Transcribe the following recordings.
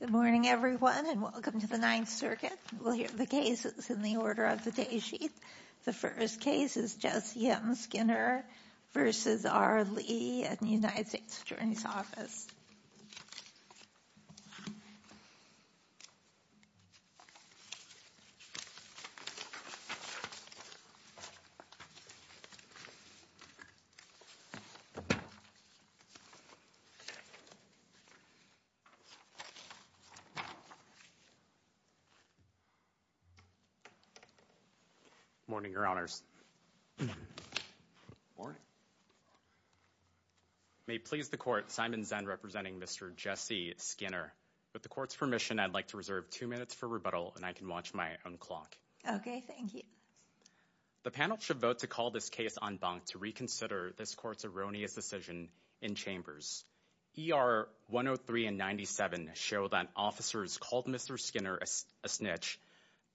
Good morning everyone and welcome to the Ninth Circuit. We'll hear the cases in the order of the day sheet. The first case is Jesse M. Skinner v. R. Lee at the United States Attorney's Office. Good morning, Your Honors. May it please the Court, Simon Zenn representing Mr. Jesse Skinner. With the Court's permission, I'd like to reserve two minutes for rebuttal and I can watch my own clock. Okay, thank you. The panel should vote to call this case en banc to reconsider this Court's erroneous decision in Chambers. ER 103 and 97 show that officers called Mr. Skinner a snitch,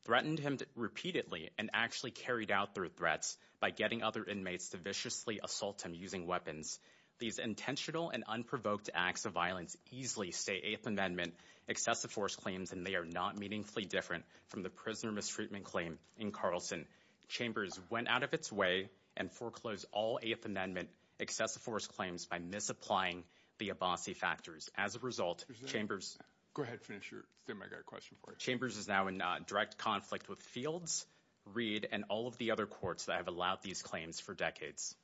threatened him repeatedly, and actually carried out their threats by getting other inmates to viciously assault him using weapons. These intentional and unprovoked acts of violence easily stay Eighth Amendment excessive force claims and they are not meaningfully different from the prisoner mistreatment claim in Carlson. Chambers went out of its way and foreclosed all Eighth Amendment excessive force claims by misapplying the Abbasi factors. As a result, Chambers is now in direct conflict with Fields, Reed, and all of the other courts that have allowed these claims for decades.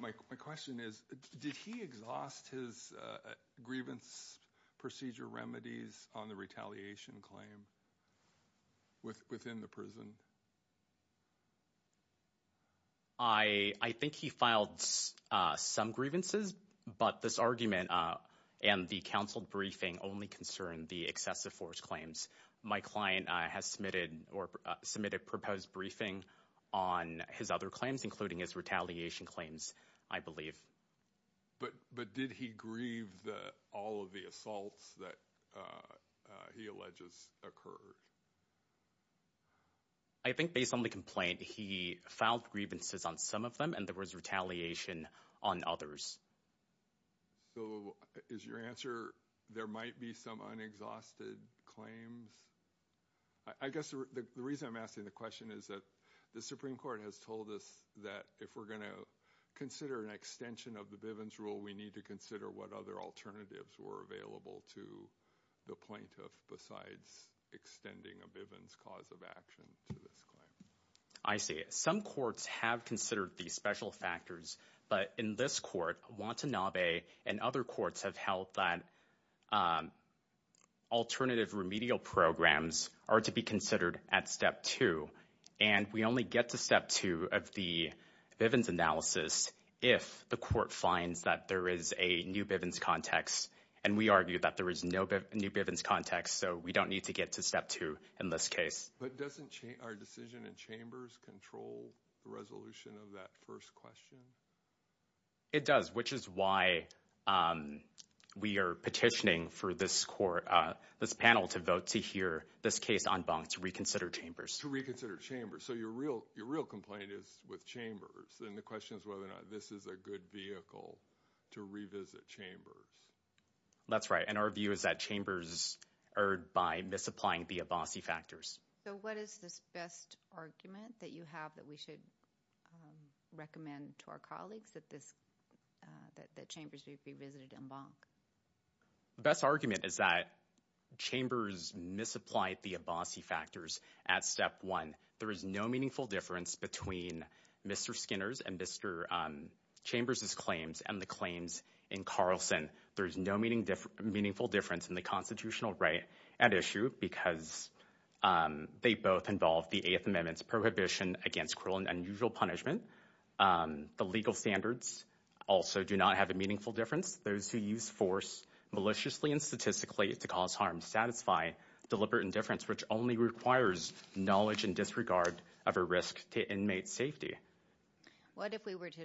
My question is, did he exhaust his grievance procedure remedies on the retaliation claim within the prison? I think he filed some grievances, but this argument and the counsel briefing only concerned the excessive force claims. My client has submitted a proposed briefing on his other claims, including his retaliation claims, I believe. But did he grieve all of the assaults that he alleges occurred? I think based on the complaint, he filed grievances on some of them and there was retaliation on others. So is your answer there might be some unexhausted claims? I guess the reason I'm asking the question is that the Supreme Court has told us that if we're going to consider an extension of the Bivens rule, we need to consider what other alternatives were available to the plaintiff besides extending a Bivens cause of action to this claim. I see. Some courts have considered these special factors. But in this court, Watanabe and other courts have held that alternative remedial programs are to be considered at Step 2. And we only get to Step 2 of the Bivens analysis if the court finds that there is a new Bivens context. And we argue that there is no new Bivens context, so we don't need to get to Step 2 in this case. But doesn't our decision in Chambers control the resolution of that first question? It does, which is why we are petitioning for this panel to vote to hear this case en banc to reconsider Chambers. To reconsider Chambers. So your real complaint is with Chambers. And the question is whether or not this is a good vehicle to revisit Chambers. That's right. And our view is that Chambers erred by misapplying the Abbasi factors. So what is this best argument that you have that we should recommend to our colleagues that Chambers be revisited en banc? The best argument is that Chambers misapplied the Abbasi factors at Step 1. There is no meaningful difference between Mr. Skinner's and Mr. Chambers' claims and the claims in Carlson. There is no meaningful difference in the constitutional right at issue because they both involve the Eighth Amendment's prohibition against cruel and unusual punishment. The legal standards also do not have a meaningful difference. Those who use force maliciously and statistically to cause harm satisfy deliberate indifference, which only requires knowledge and disregard of a risk to inmate safety. What if we were to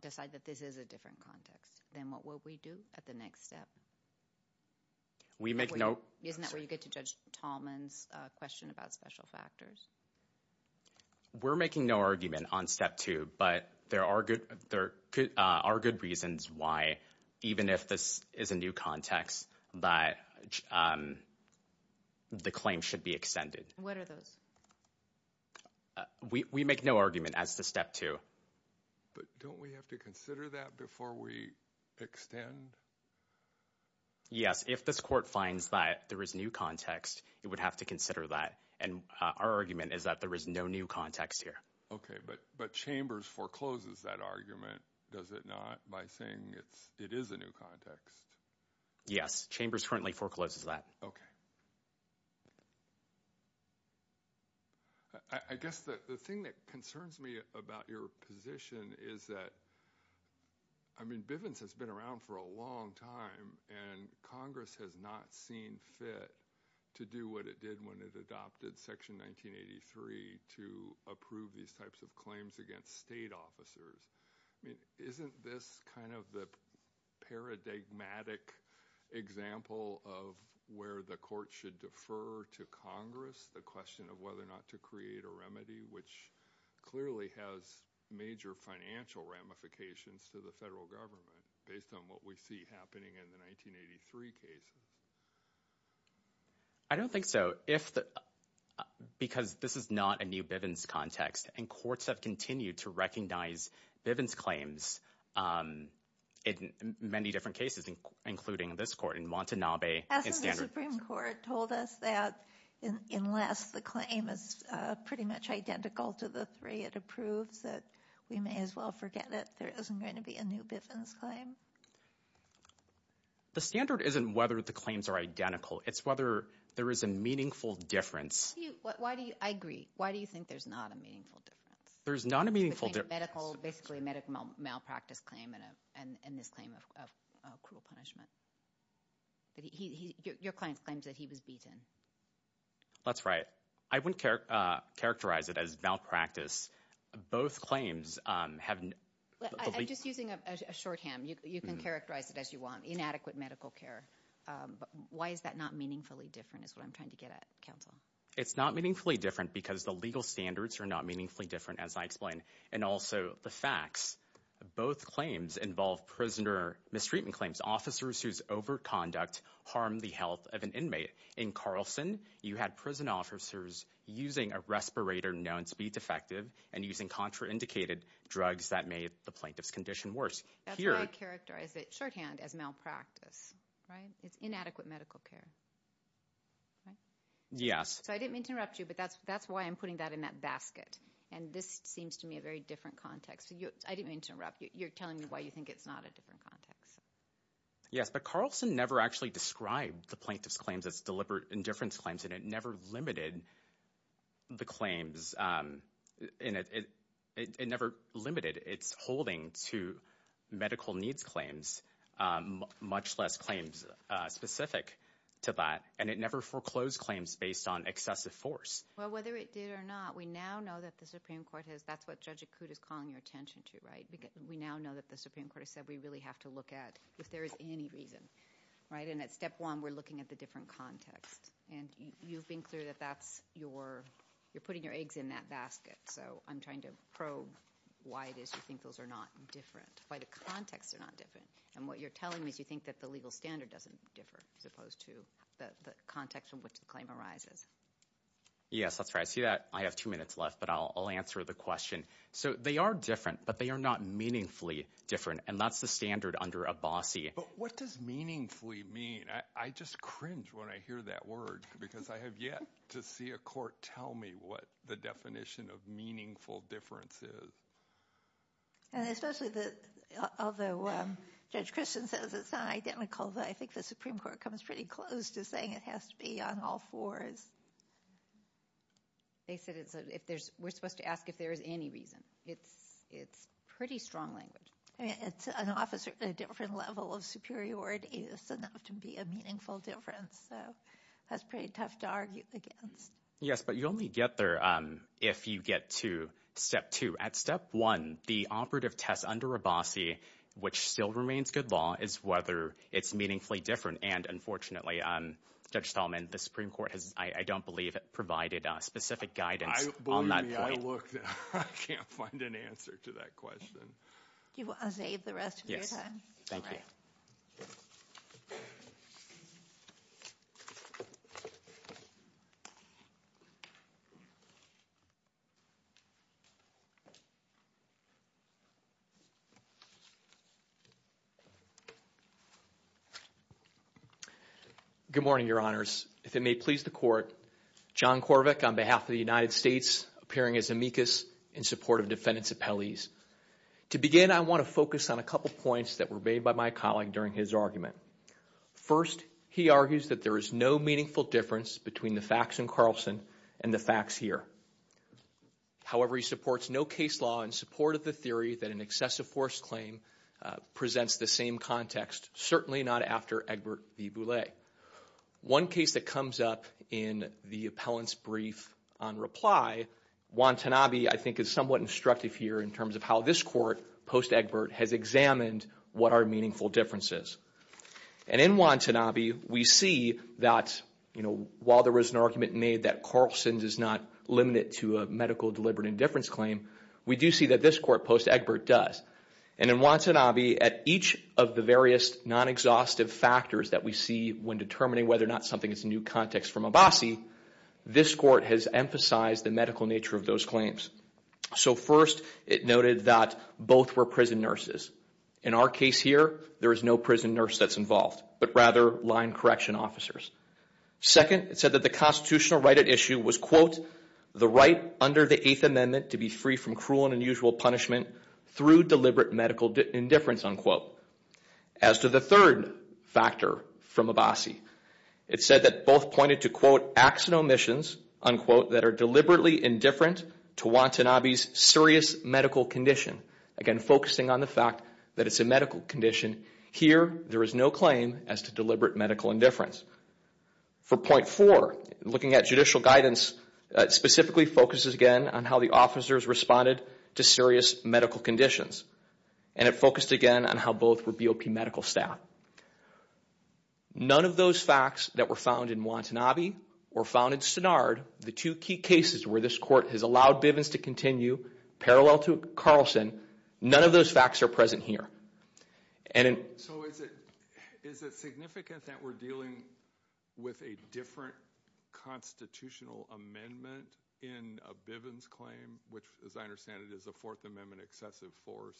decide that this is a different context? Then what will we do at the next step? Isn't that where you get to Judge Tallman's question about special factors? We're making no argument on Step 2, but there are good reasons why, even if this is a new context, that the claim should be extended. What are those? We make no argument as to Step 2. But don't we have to consider that before we extend? Yes, if this court finds that there is new context, it would have to consider that. And our argument is that there is no new context here. OK, but Chambers forecloses that argument, does it not, by saying it is a new context? Yes, Chambers currently forecloses that. OK. I guess the thing that concerns me about your position is that, I mean, Bivens has been around for a long time, and Congress has not seen fit to do what it did when it adopted Section 1983 to approve these types of claims against state officers. I mean, isn't this kind of the paradigmatic example of where the court should defer to Congress, the question of whether or not to create a remedy, which clearly has major financial ramifications to the federal government, based on what we see happening in the 1983 case? I don't think so. Because this is not a new Bivens context, and courts have continued to recognize Bivens claims in many different cases, including this court in Montenabe. Hasn't the Supreme Court told us that unless the claim is pretty much identical to the three it approves, that we may as well forget that there isn't going to be a new Bivens claim? The standard isn't whether the claims are identical. It's whether there is a meaningful difference. I agree. Why do you think there's not a meaningful difference? There's not a meaningful difference. Between a medical, basically a medical malpractice claim and this claim of cruel punishment. Your client claims that he was beaten. That's right. I wouldn't characterize it as malpractice. Both claims have the least- I'm just using a shorthand. You can characterize it as you want, inadequate medical care. Why is that not meaningfully different is what I'm trying to get at, counsel. It's not meaningfully different because the legal standards are not meaningfully different, as I explained. And also, the facts. Both claims involve prisoner mistreatment claims. Officers whose overconduct harmed the health of an inmate. In Carlson, you had prison officers using a respirator known to be defective and using contraindicated drugs that made the plaintiff's condition worse. That's why I characterize it, shorthand, as malpractice. Right? It's inadequate medical care. Right? Yes. So I didn't mean to interrupt you, but that's why I'm putting that in that basket. And this seems to me a very different context. I didn't mean to interrupt you. You're telling me why you think it's not a different context. Yes, but Carlson never actually described the plaintiff's claims as deliberate indifference claims, and it never limited the claims. It never limited. It's holding to medical needs claims, much less claims specific to that, and it never foreclosed claims based on excessive force. Well, whether it did or not, we now know that the Supreme Court has. That's what Judge Akut is calling your attention to. Right? We now know that the Supreme Court has said we really have to look at if there is any reason. Right? And at step one, we're looking at the different context. And you've been clear that that's your. You're putting your eggs in that basket. So I'm trying to probe why it is you think those are not different, why the contexts are not different. And what you're telling me is you think that the legal standard doesn't differ as opposed to the context from which the claim arises. Yes, that's right. I see that. I have two minutes left, but I'll answer the question. So they are different, but they are not meaningfully different, and that's the standard under Abbasi. But what does meaningfully mean? I just cringe when I hear that word because I have yet to see a court tell me what the definition of meaningful difference is. And especially although Judge Christian says it's not identical, but I think the Supreme Court comes pretty close to saying it has to be on all fours. They said we're supposed to ask if there is any reason. It's pretty strong language. It's an officer at a different level of superiority. It doesn't have to be a meaningful difference. So that's pretty tough to argue against. Yes, but you only get there if you get to step two. At step one, the operative test under Abbasi, which still remains good law, is whether it's meaningfully different. And unfortunately, Judge Tallman, the Supreme Court has, I don't believe, provided specific guidance on that point. Believe me, I looked. I can't find an answer to that question. Do you want to save the rest of your time? Yes, thank you. Good morning, Your Honors. If it may please the Court, John Corvick on behalf of the United States, appearing as amicus in support of defendant's appellees. To begin, I want to focus on a couple points that were made by my colleague during his argument. First, he argues that there is no meaningful difference between the facts in Carlson and the facts here. However, he supports no case law in support of the theory that an excessive force claim presents the same context, certainly not after Egbert v. Boulay. One case that comes up in the appellant's brief on reply, Watanabe, I think, is somewhat instructive here in terms of how this court, post-Egbert, has examined what are meaningful differences. And in Watanabe, we see that, you know, while there was an argument made that Carlson is not limited to a medical deliberate indifference claim, we do see that this court, post-Egbert, does. And in Watanabe, at each of the various non-exhaustive factors that we see when determining whether or not something is a new context from Abassi, this court has emphasized the medical nature of those claims. So first, it noted that both were prison nurses. In our case here, there is no prison nurse that's involved, but rather line correction officers. Second, it said that the constitutional right at issue was, quote, the right under the Eighth Amendment to be free from cruel and unusual punishment through deliberate medical indifference, unquote. As to the third factor from Abassi, it said that both pointed to, quote, Again, focusing on the fact that it's a medical condition. Here, there is no claim as to deliberate medical indifference. For point four, looking at judicial guidance, it specifically focuses again on how the officers responded to serious medical conditions. And it focused again on how both were BOP medical staff. None of those facts that were found in Watanabe or found in Stannard, the two key cases where this court has allowed Bivens to continue parallel to Carlson, none of those facts are present here. So is it significant that we're dealing with a different constitutional amendment in a Bivens claim, which, as I understand it, is a Fourth Amendment excessive force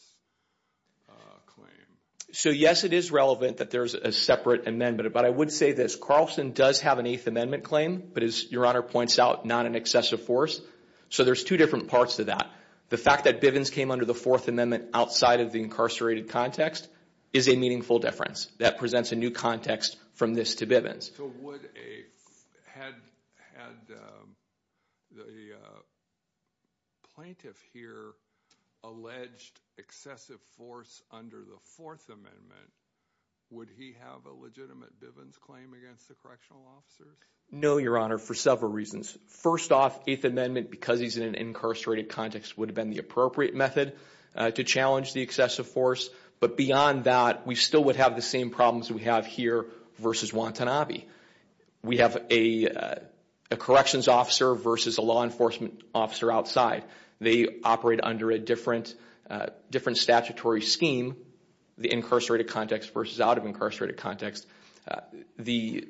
claim? So, yes, it is relevant that there's a separate amendment, but I would say this. Carlson does have an Eighth Amendment claim, but as Your Honor points out, not an excessive force. So there's two different parts to that. The fact that Bivens came under the Fourth Amendment outside of the incarcerated context is a meaningful difference. That presents a new context from this to Bivens. So would a – had the plaintiff here alleged excessive force under the Fourth Amendment, would he have a legitimate Bivens claim against the correctional officers? No, Your Honor, for several reasons. First off, Eighth Amendment, because he's in an incarcerated context, would have been the appropriate method to challenge the excessive force. But beyond that, we still would have the same problems we have here versus Watanabe. We have a corrections officer versus a law enforcement officer outside. They operate under a different statutory scheme, the incarcerated context versus out of incarcerated context. The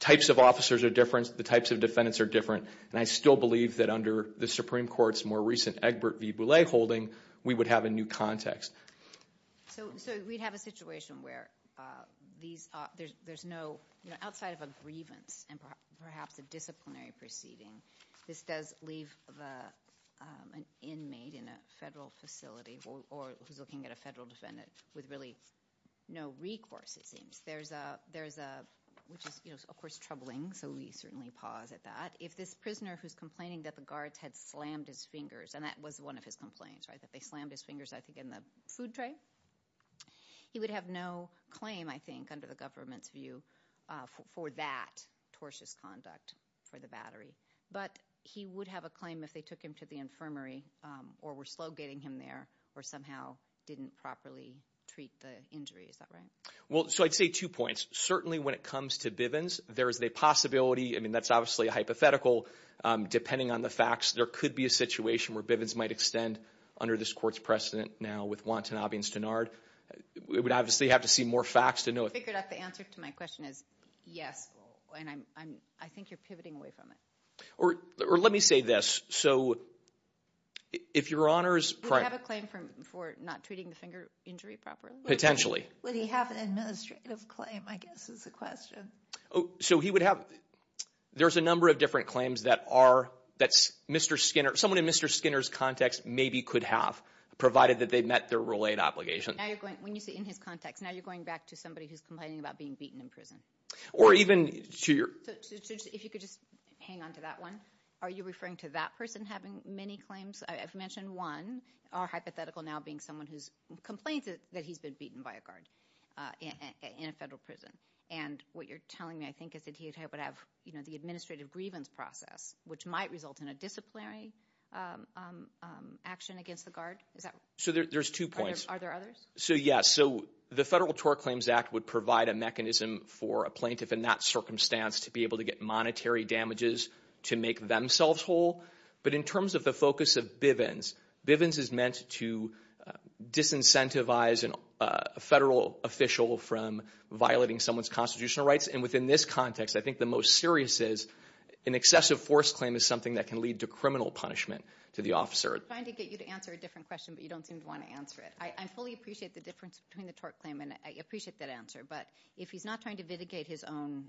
types of officers are different. The types of defendants are different. And I still believe that under the Supreme Court's more recent Egbert v. Boulay holding, we would have a new context. So we'd have a situation where these – there's no – outside of a grievance and perhaps a disciplinary proceeding, this does leave an inmate in a federal facility or who's looking at a federal defendant with really no recourse, it seems. There's a – which is, of course, troubling, so we certainly pause at that. If this prisoner who's complaining that the guards had slammed his fingers – and that was one of his complaints, right, that they slammed his fingers, I think, in the food tray, he would have no claim, I think, under the government's view for that tortious conduct for the battery. But he would have a claim if they took him to the infirmary or were slow getting him there or somehow didn't properly treat the injury. Is that right? Well, so I'd say two points. Certainly, when it comes to Bivens, there is a possibility – I mean, that's obviously a hypothetical. Depending on the facts, there could be a situation where Bivens might extend under this court's precedent now with wanton obviance to NARD. We would obviously have to see more facts to know. I figured out the answer to my question is yes, and I'm – I think you're pivoting away from it. Or let me say this. So if your Honor's – Would he have a claim for not treating the finger injury properly? Potentially. Would he have an administrative claim, I guess, is the question. So he would have – there's a number of different claims that are – that Mr. Skinner – someone in Mr. Skinner's context maybe could have, provided that they met their rule 8 obligation. When you say in his context, now you're going back to somebody who's complaining about being beaten in prison. Or even to your – If you could just hang on to that one. Are you referring to that person having many claims? I've mentioned one. Our hypothetical now being someone who's complained that he's been beaten by a guard in a federal prison. And what you're telling me, I think, is that he would have the administrative grievance process, which might result in a disciplinary action against the guard. Is that – So there's two points. Are there others? So, yes. So the Federal Tort Claims Act would provide a mechanism for a plaintiff in that circumstance to be able to get monetary damages to make themselves whole. But in terms of the focus of Bivens, Bivens is meant to disincentivize a federal official from violating someone's constitutional rights. And within this context, I think the most serious is an excessive force claim is something that can lead to criminal punishment to the officer. I'm trying to get you to answer a different question, but you don't seem to want to answer it. I fully appreciate the difference between the tort claim, and I appreciate that answer. But if he's not trying to mitigate his own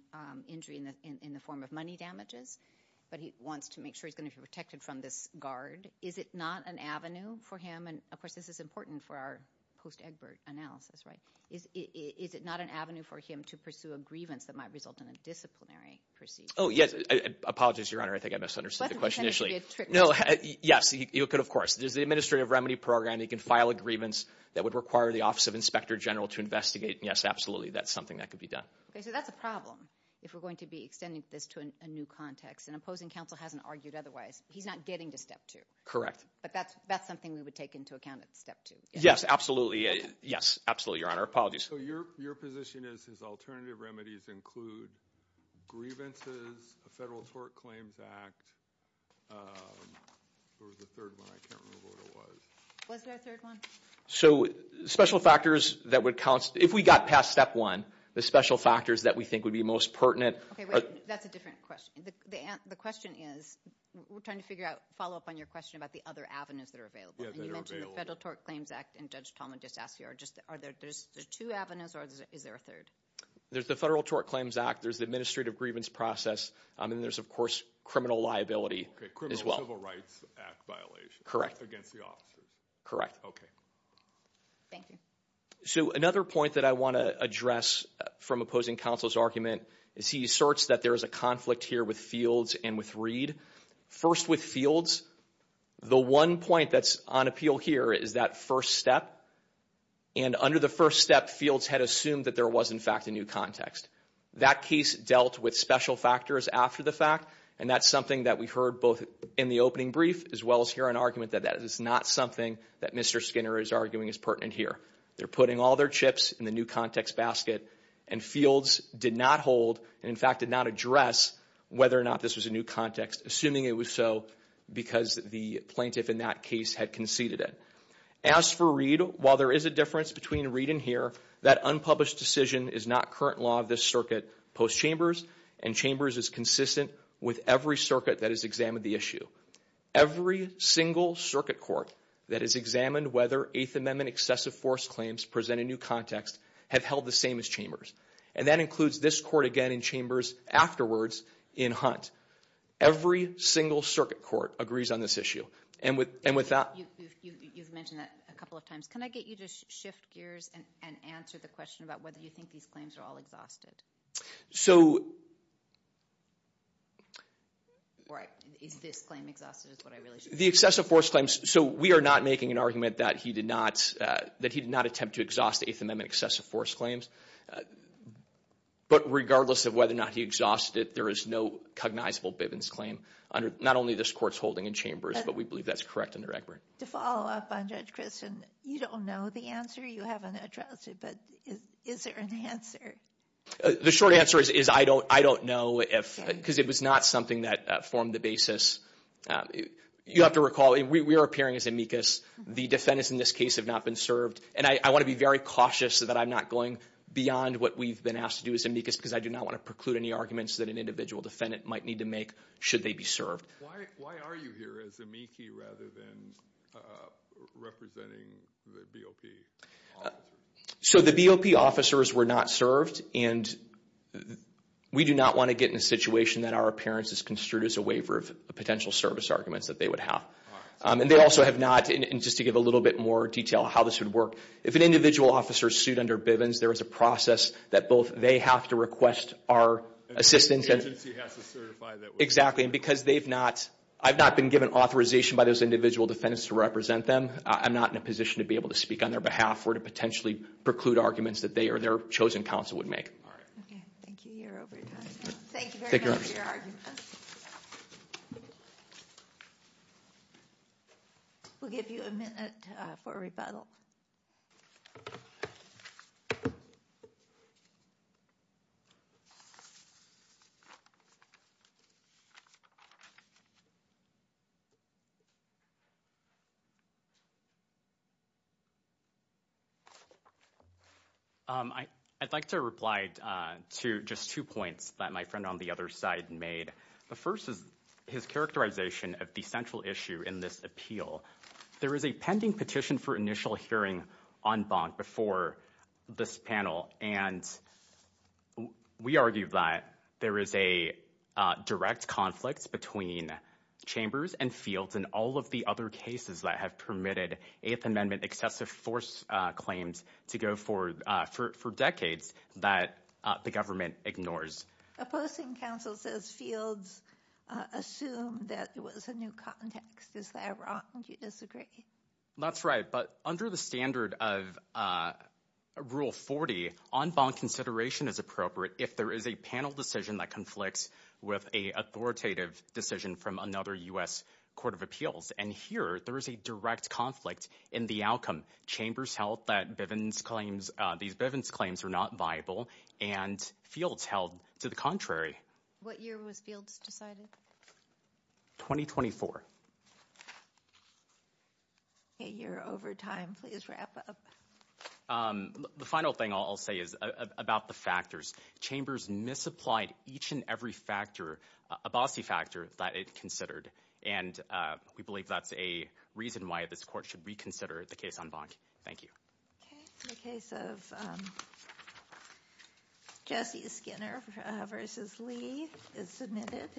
injury in the form of money damages, but he wants to make sure he's going to be protected from this guard, is it not an avenue for him – and, of course, this is important for our post-Egbert analysis, right? Is it not an avenue for him to pursue a grievance that might result in a disciplinary procedure? Oh, yes. I apologize, Your Honor. I think I misunderstood the question initially. Well, I think it's going to be a trick question. No, yes. You could, of course. There's the administrative remedy program. He can file a grievance that would require the Office of Inspector General to investigate. Yes, absolutely. That's something that could be done. Okay. So that's a problem if we're going to be extending this to a new context. And opposing counsel hasn't argued otherwise. He's not getting to Step 2. Correct. But that's something we would take into account at Step 2. Yes, absolutely. Yes, absolutely, Your Honor. Apologies. So your position is his alternative remedies include grievances, a federal tort claims act, or the third one. I can't remember what it was. Was there a third one? So special factors that would count. If we got past Step 1, the special factors that we think would be most pertinent are Okay, wait. That's a different question. The question is we're trying to figure out, follow up on your question about the other avenues that are available. Yeah, that are available. And you mentioned the Federal Tort Claims Act, and Judge Tallman just asked you. Are there two avenues, or is there a third? There's the Federal Tort Claims Act. There's the administrative grievance process. And then there's, of course, criminal liability as well. Criminal Civil Rights Act violation. Correct. Against the officers. Correct. Okay. Thank you. So another point that I want to address from opposing counsel's argument is he asserts that there is a conflict here with Fields and with Reed. First, with Fields, the one point that's on appeal here is that first step. And under the first step, Fields had assumed that there was, in fact, a new context. That case dealt with special factors after the fact. And that's something that we heard both in the opening brief as well as here in argument that that is not something that Mr. Skinner is arguing is pertinent here. They're putting all their chips in the new context basket. And Fields did not hold and, in fact, did not address whether or not this was a new context, assuming it was so because the plaintiff in that case had conceded it. As for Reed, while there is a difference between Reed and here, that unpublished decision is not current law of this circuit post Chambers. And Chambers is consistent with every circuit that has examined the issue. Every single circuit court that has examined whether Eighth Amendment excessive force claims present a new context have held the same as Chambers. And that includes this court again in Chambers afterwards in Hunt. Every single circuit court agrees on this issue. And with that – You've mentioned that a couple of times. Can I get you to shift gears and answer the question about whether you think these claims are all exhausted? So – Right. Is this claim exhausted is what I really – The excessive force claims – so we are not making an argument that he did not – that he did not attempt to exhaust Eighth Amendment excessive force claims. But regardless of whether or not he exhausted it, there is no cognizable Bivens claim under not only this court's holding in Chambers, but we believe that's correct under Egbert. To follow up on Judge Christin, you don't know the answer. You haven't addressed it. But is there an answer? The short answer is I don't know if – because it was not something that formed the basis. You have to recall we are appearing as amicus. The defendants in this case have not been served. And I want to be very cautious that I'm not going beyond what we've been asked to do as amicus because I do not want to preclude any arguments that an individual defendant might need to make should they be served. Why are you here as amici rather than representing the BOP officers? So the BOP officers were not served, and we do not want to get in a situation that our appearance is construed as a waiver of potential service arguments that they would have. And they also have not – and just to give a little bit more detail on how this would work, if an individual officer is sued under Bivens, there is a process that both they have to request our assistance. And the agency has to certify that. Exactly. And because they've not – I've not been given authorization by those individual defendants to represent them. I'm not in a position to be able to speak on their behalf or to potentially preclude arguments that they or their chosen counsel would make. All right. Okay. Thank you. You're over your time. Thank you very much for your arguments. We'll give you a minute for rebuttal. I'd like to reply to just two points that my friend on the other side made. The first is his characterization of the central issue in this appeal. There is a pending petition for initial hearing on Bonk before this panel. And we argue that there is a direct conflict between Chambers and Fields and all of the other cases that have permitted Eighth Amendment excessive force claims to go for decades that the government ignores. Opposing counsel says Fields assumed that it was a new context. Is that wrong? Do you disagree? That's right. But under the standard of Rule 40, en banc consideration is appropriate if there is a panel decision that conflicts with an authoritative decision from another U.S. court of appeals. And here, there is a direct conflict in the outcome. Chambers held that Bivens claims – these Bivens claims are not viable, and Fields held to the contrary. What year was Fields decided? 2024. Okay, you're over time. Please wrap up. The final thing I'll say is about the factors. Chambers misapplied each and every factor, a bossy factor, that it considered. And we believe that's a reason why this court should reconsider the case on Bonk. Thank you. Okay. In the case of Jesse Skinner v. Lee, it's submitted.